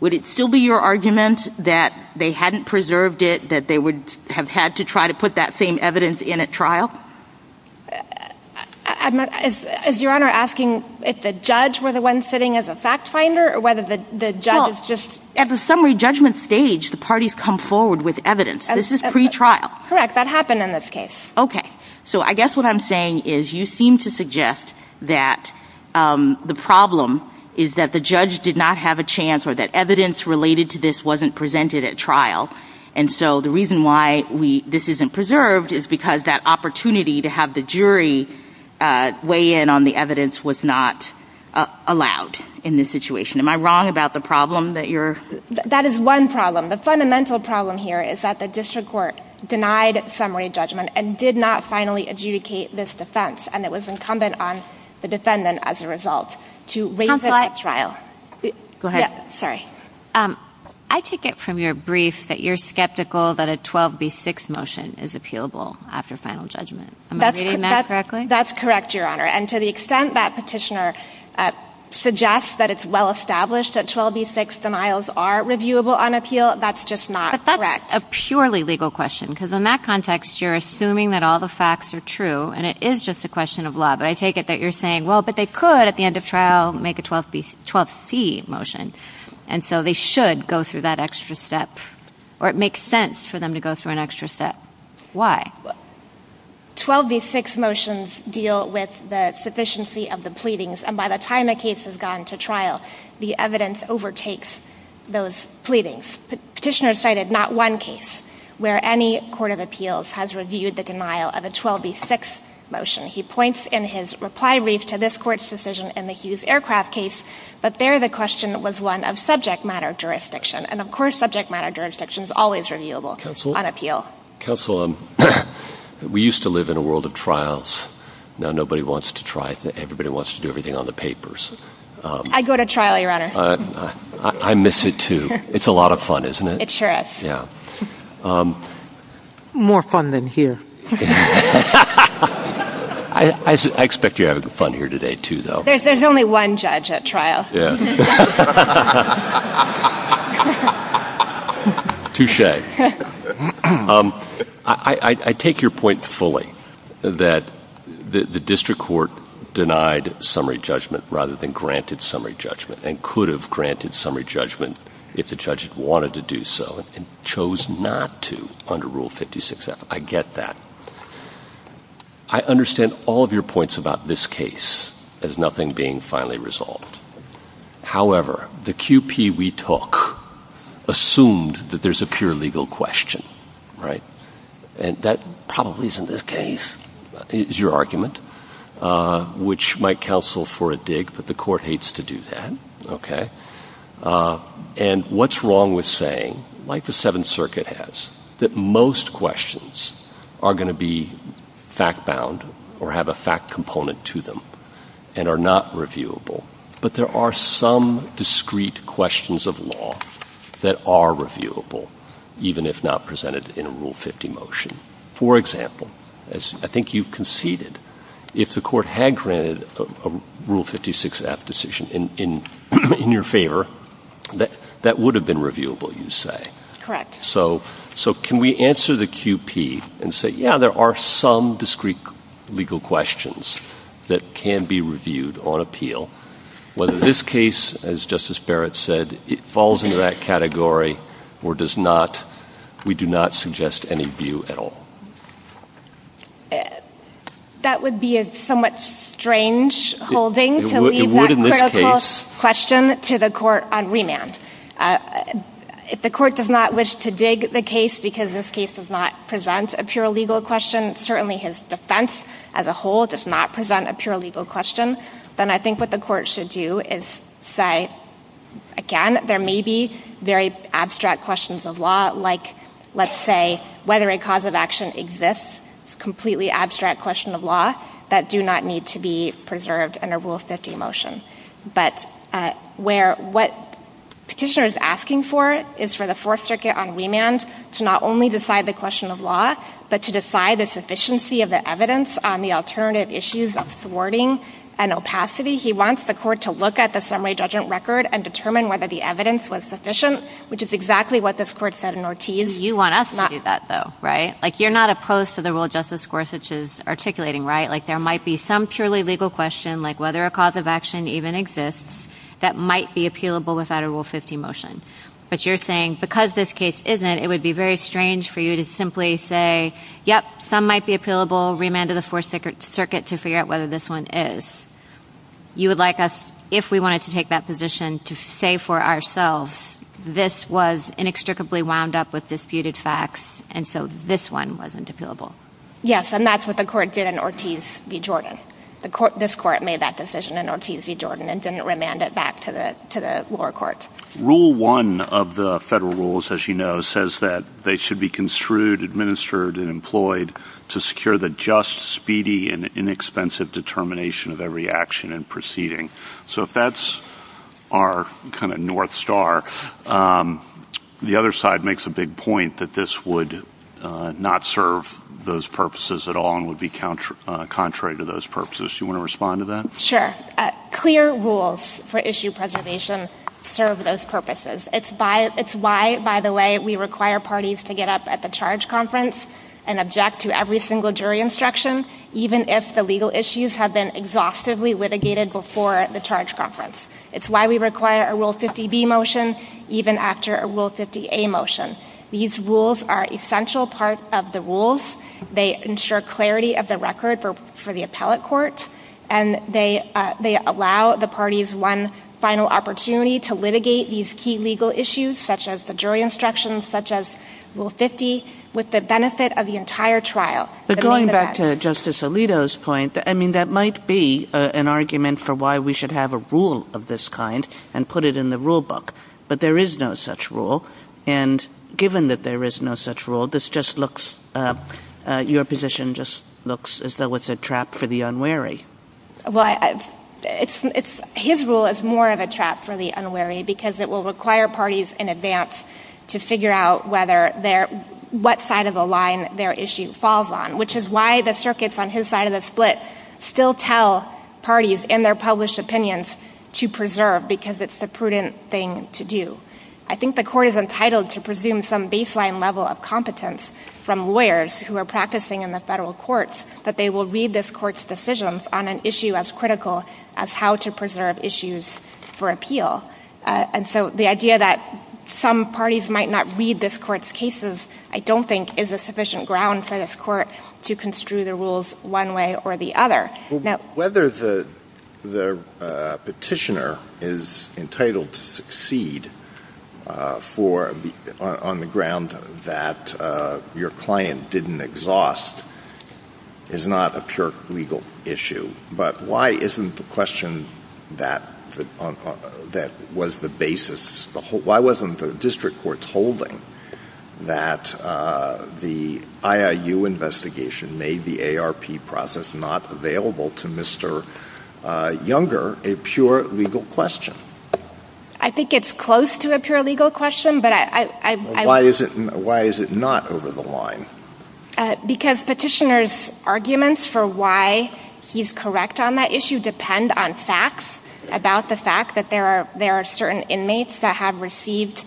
Would it still be your argument that they hadn't preserved it, that they would have had to try to put that same evidence in at trial? Is your Honor asking if the judge were the one sitting as a fact finder or whether the judge is just. Well, at the summary judgment stage, the parties come forward with evidence. This is pre-trial. Correct. That happened in this case. Okay. So I guess what I'm saying is you seem to suggest that the problem is that the evidence related to this wasn't presented at trial. And so the reason why this isn't preserved is because that opportunity to have the jury weigh in on the evidence was not allowed in this situation. Am I wrong about the problem that you're. That is one problem. The fundamental problem here is that the district court denied summary judgment and did not finally adjudicate this defense. And it was incumbent on the defendant as a result to raise it at trial. Go ahead. Sorry. I take it from your brief that you're skeptical that a 12B6 motion is appealable after final judgment. Am I reading that correctly? That's correct, Your Honor. And to the extent that petitioner suggests that it's well established that 12B6 denials are reviewable on appeal, that's just not correct. But that's a purely legal question because in that context, you're assuming that all the facts are true and it is just a question of law. But I take it that you're saying, well, but they could at the end of trial make a 12C motion. And so they should go through that extra step. Or it makes sense for them to go through an extra step. Why? 12B6 motions deal with the sufficiency of the pleadings. And by the time a case has gone to trial, the evidence overtakes those pleadings. Petitioner cited not one case where any court of appeals has reviewed the denial of a 12B6 motion. He points in his reply brief to this court's decision in the Hughes Aircraft case. But there the question was one of subject matter jurisdiction. And, of course, subject matter jurisdiction is always reviewable on appeal. Counsel, we used to live in a world of trials. Now nobody wants to try it. Everybody wants to do everything on the papers. I go to trial, Your Honor. I miss it, too. It's a lot of fun, isn't it? It sure is. Yeah. More fun than here. I expect you're having fun here today, too, though. There's only one judge at trial. Yeah. Touche. I take your point fully that the district court denied summary judgment rather than granted summary judgment and could have granted summary judgment if the judge wanted to do so and chose not to under Rule 56F. I get that. I understand all of your points about this case as nothing being finally resolved. However, the QP we took assumed that there's a pure legal question, right? And that probably isn't the case, is your argument, which might counsel for a dig, but the court hates to do that, okay? And what's wrong with saying, like the Seventh Circuit has, that most questions are going to be fact-bound or have a fact component to them and are not reviewable, but there are some discrete questions of law that are reviewable, even if not presented in a Rule 50 motion. For example, as I think you conceded, if the court had granted a Rule 56F decision in your favor, that would have been reviewable, you say. Correct. So can we answer the QP and say, yeah, there are some discrete legal questions that can be reviewed on appeal. Whether this case, as Justice Barrett said, falls into that category or does not, we do not suggest any view at all. That would be a somewhat strange holding to leave that critical question to the court on remand. If the court does not wish to dig the case because this case does not present a pure legal question, certainly his defense as a whole does not present a pure legal question, then I think what the court should do is say, again, there may be very abstract questions of law, like, let's say, whether a cause of action exists is a completely abstract question of law that do not need to be preserved under Rule 50 motion. But where what petitioner is asking for is for the Fourth Circuit on remand to not only decide the question of law, but to decide the sufficiency of the evidence on the alternative issues of thwarting and opacity. He wants the court to look at the summary judgment record and determine whether the evidence was sufficient, which is exactly what this court said in Ortiz. You want us to do that, though, right? Like, you're not opposed to the rule Justice Gorsuch is articulating, right? Like, there might be some purely legal question, like whether a cause of action even exists, that might be appealable without a Rule 50 motion. But you're saying, because this case isn't, it would be very strange for you to simply say, yep, some might be appealable, remand to the Fourth Circuit to figure out whether this one is. You would like us, if we wanted to take that position, to say for ourselves, this was inextricably wound up with disputed facts, and so this one wasn't appealable. Yes, and that's what the court did in Ortiz v. Jordan. This court made that decision in Ortiz v. Jordan and didn't remand it back to the lower court. Rule 1 of the federal rules, as you know, says that they should be construed, administered, and employed to secure the just, speedy, and inexpensive determination of every action and proceeding. So if that's our kind of north star, the other side makes a big point that this would not serve those purposes at all and would be contrary to those purposes. Do you want to respond to that? Sure. Clear rules for issue preservation serve those purposes. It's why, by the way, we require parties to get up at the charge conference and object to every single jury instruction, even if the legal issues have been exhaustively litigated before the charge conference. It's why we require a Rule 50b motion, even after a Rule 50a motion. These rules are an essential part of the rules. They ensure clarity of the record for the appellate court, and they allow the parties one final opportunity to litigate these key legal issues, such as the jury instructions, such as Rule 50, with the benefit of the entire trial. But going back to Justice Alito's point, I mean, that might be an argument for why we should have a rule of this kind and put it in the rule book. But there is no such rule. And given that there is no such rule, this just looks, your position just looks as though it's a trap for the unwary. Well, his rule is more of a trap for the unwary because it will require parties in advance to figure out what side of the line their issue falls on, which is why the circuits on his side of the split still tell parties in their I think the court is entitled to presume some baseline level of competence from lawyers who are practicing in the federal courts that they will read this court's decisions on an issue as critical as how to preserve issues for appeal. And so the idea that some parties might not read this court's cases, I don't think, is a sufficient ground for this court to construe the rules one way or the other. Well, whether the petitioner is entitled to succeed on the ground that your client didn't exhaust is not a pure legal issue. But why isn't the question that was the basis, why wasn't the district court holding that the IIU investigation made the ARP process not available to the Mr. Younger a pure legal question? I think it's close to a pure legal question, but I... Why is it not over the line? Because petitioner's arguments for why he's correct on that issue depend on facts about the fact that there are certain inmates that have received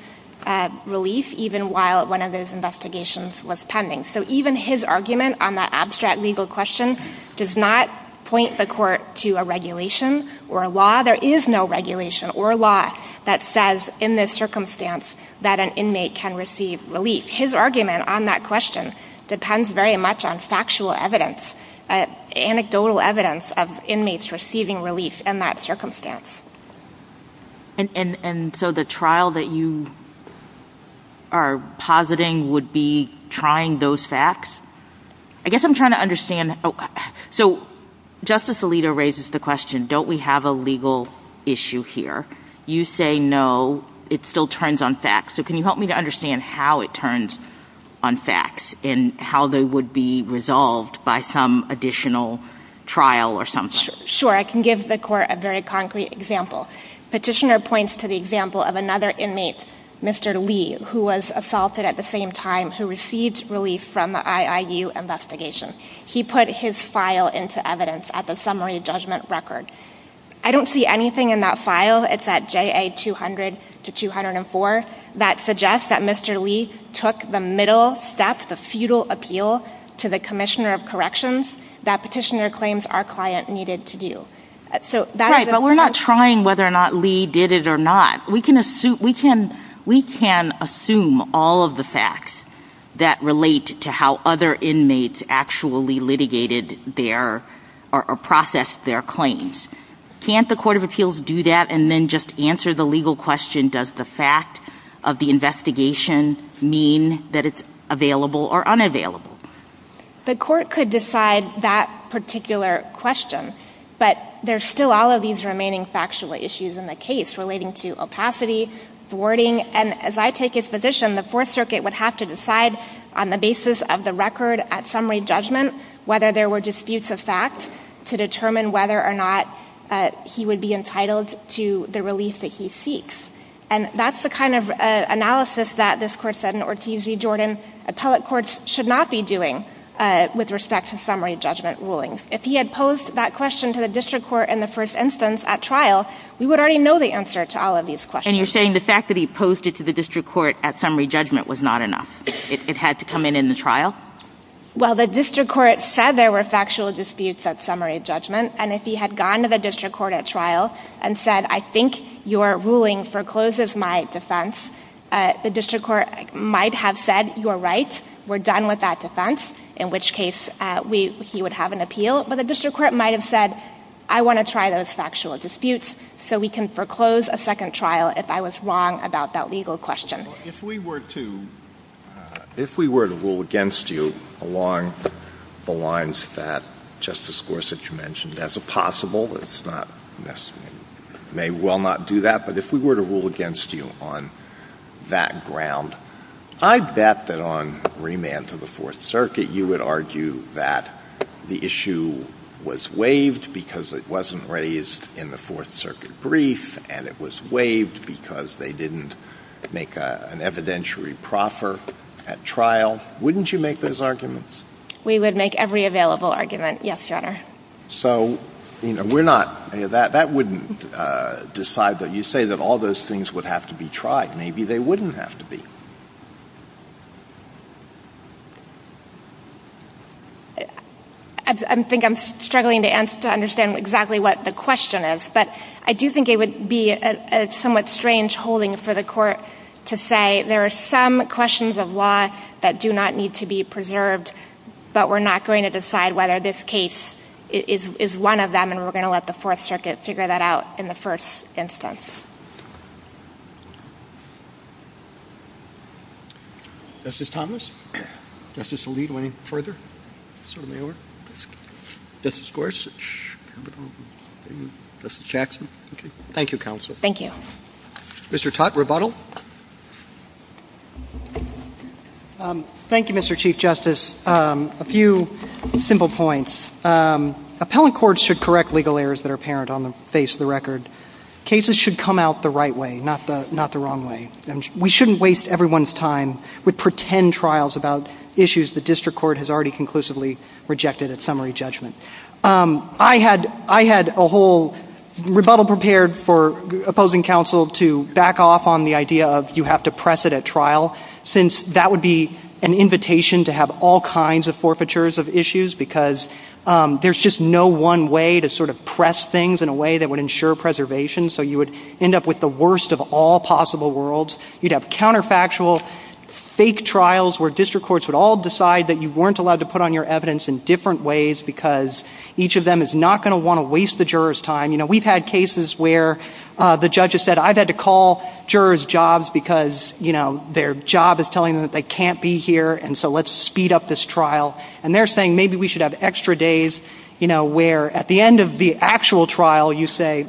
relief even while one of those investigations was pending. So even his argument on that abstract legal question does not point the court to a regulation or a law. There is no regulation or law that says in this circumstance that an inmate can receive relief. His argument on that question depends very much on factual evidence, anecdotal evidence of inmates receiving relief in that circumstance. And so the trial that you are positing would be trying those facts? I guess I'm trying to understand. So Justice Alito raises the question, don't we have a legal issue here? You say no, it still turns on facts. So can you help me to understand how it turns on facts and how they would be resolved by some additional trial or something? Sure, I can give the court a very concrete example. Petitioner points to the example of another inmate, Mr. Lee, who was assaulted at the same time who received relief from the IIU investigation. He put his file into evidence at the summary judgment record. I don't see anything in that file. It's at JA 200-204 that suggests that Mr. Lee took the middle step, the futile appeal to the commissioner of corrections that petitioner claims our client needed to do. Right, but we're not trying whether or not Lee did it or not. We can assume all of the facts that relate to how other inmates actually litigated their or processed their claims. Can't the court of appeals do that and then just answer the legal question, does the fact of the investigation mean that it's available or unavailable? The court could decide that particular question, but there's still all of these remaining factual issues in the case relating to opacity, thwarting. And as I take his position, the Fourth Circuit would have to decide on the basis of the record at summary judgment whether there were disputes of fact to determine whether or not he would be entitled to the relief that he seeks. And that's the kind of analysis that this Court said in Ortiz v. Jordan. Appellate courts should not be doing with respect to summary judgment rulings. If he had posed that question to the district court in the first instance at trial, we would already know the answer to all of these questions. And you're saying the fact that he posed it to the district court at summary judgment was not enough? It had to come in in the trial? Well, the district court said there were factual disputes at summary judgment, and if he had gone to the district court at trial and said, I think your ruling forecloses my defense, the district court might have said, you're right, we're done with that defense, in which case he would have an appeal. But the district court might have said, I want to try those factual disputes so we can foreclose a second trial if I was wrong about that legal question. Well, if we were to rule against you along the lines that Justice Gorsuch mentioned as a possible, it's not necessary, may well not do that, but if we were to rule against you on that ground, I bet that on remand to the Fourth Circuit you would argue that the issue was waived because it wasn't raised in the Fourth Circuit brief, and it was waived because they didn't make an evidentiary proffer at trial. Wouldn't you make those arguments? We would make every available argument, yes, Your Honor. Okay. So, you know, that wouldn't decide that. You say that all those things would have to be tried. Maybe they wouldn't have to be. I think I'm struggling to understand exactly what the question is, but I do think it would be a somewhat strange holding for the court to say, but we're not going to decide whether this case is one of them and we're going to let the Fourth Circuit figure that out in the first instance. Justice Thomas? Justice Alito, any further? Justice Gorsuch? Justice Jackson? Thank you, Counsel. Thank you. Mr. Tutte, rebuttal. Thank you, Mr. Chief Justice. A few simple points. Appellant courts should correct legal errors that are apparent on the face of the record. Cases should come out the right way, not the wrong way. We shouldn't waste everyone's time with pretend trials about issues the district court has already conclusively rejected at summary judgment. I had a whole rebuttal prepared for opposing counsel to back off on the idea of you have to press it at trial since that would be an invitation to have all kinds of forfeitures of issues because there's just no one way to sort of press things in a way that would ensure preservation, so you would end up with the worst of all possible worlds. You'd have counterfactual fake trials where district courts would all decide that you weren't allowed to put on your evidence in different ways because each of them is not going to want to waste the juror's time. You know, we've had cases where the judge has said I've had to call jurors' jobs because, you know, their job is telling them that they can't be here and so let's speed up this trial. And they're saying maybe we should have extra days, you know, where at the end of the actual trial you say,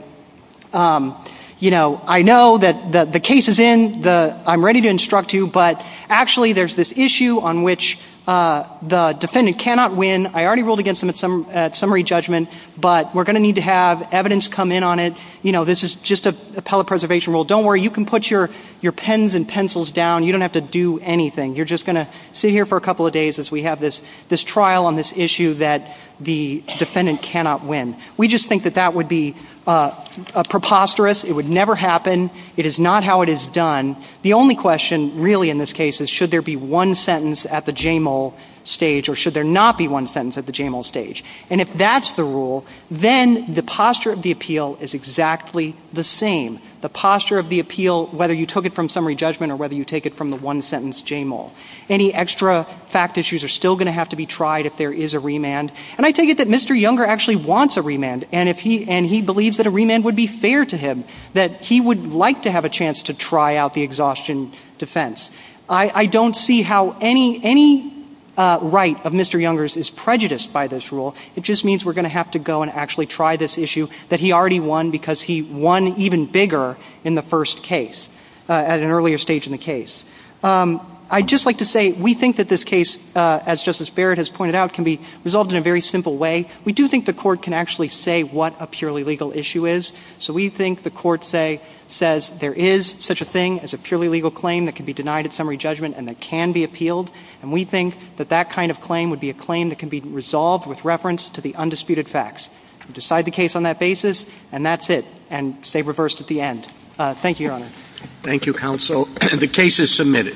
you know, I know that the case is in. I'm ready to instruct you, but actually there's this issue on which the defendant cannot win. I already ruled against them at summary judgment, but we're going to need to have evidence come in on it. You know, this is just appellate preservation rule. Don't worry. You can put your pens and pencils down. You don't have to do anything. You're just going to sit here for a couple of days as we have this trial on this issue that the defendant cannot win. We just think that that would be preposterous. It would never happen. It is not how it is done. The only question really in this case is should there be one sentence at the JMOLE stage or should there not be one sentence at the JMOLE stage. And if that's the rule, then the posture of the appeal is exactly the same. The posture of the appeal, whether you took it from summary judgment or whether you take it from the one-sentence JMOLE. Any extra fact issues are still going to have to be tried if there is a remand. And I take it that Mr. Younger actually wants a remand and he believes that a remand would be fair to him, that he would like to have a chance to try out the exhaustion defense. I don't see how any right of Mr. Younger's is prejudiced by this rule. It just means we're going to have to go and actually try this issue that he already won because he won even bigger in the first case at an earlier stage in the case. I'd just like to say we think that this case, as Justice Barrett has pointed out, can be resolved in a very simple way. We do think the court can actually say what a purely legal issue is. So we think the court says there is such a thing as a purely legal claim that can be denied at summary judgment and that can be appealed. And we think that that kind of claim would be a claim that can be resolved with reference to the undisputed facts. Decide the case on that basis, and that's it. And say reversed at the end. Thank you, Your Honor. Thank you, counsel. The case is submitted.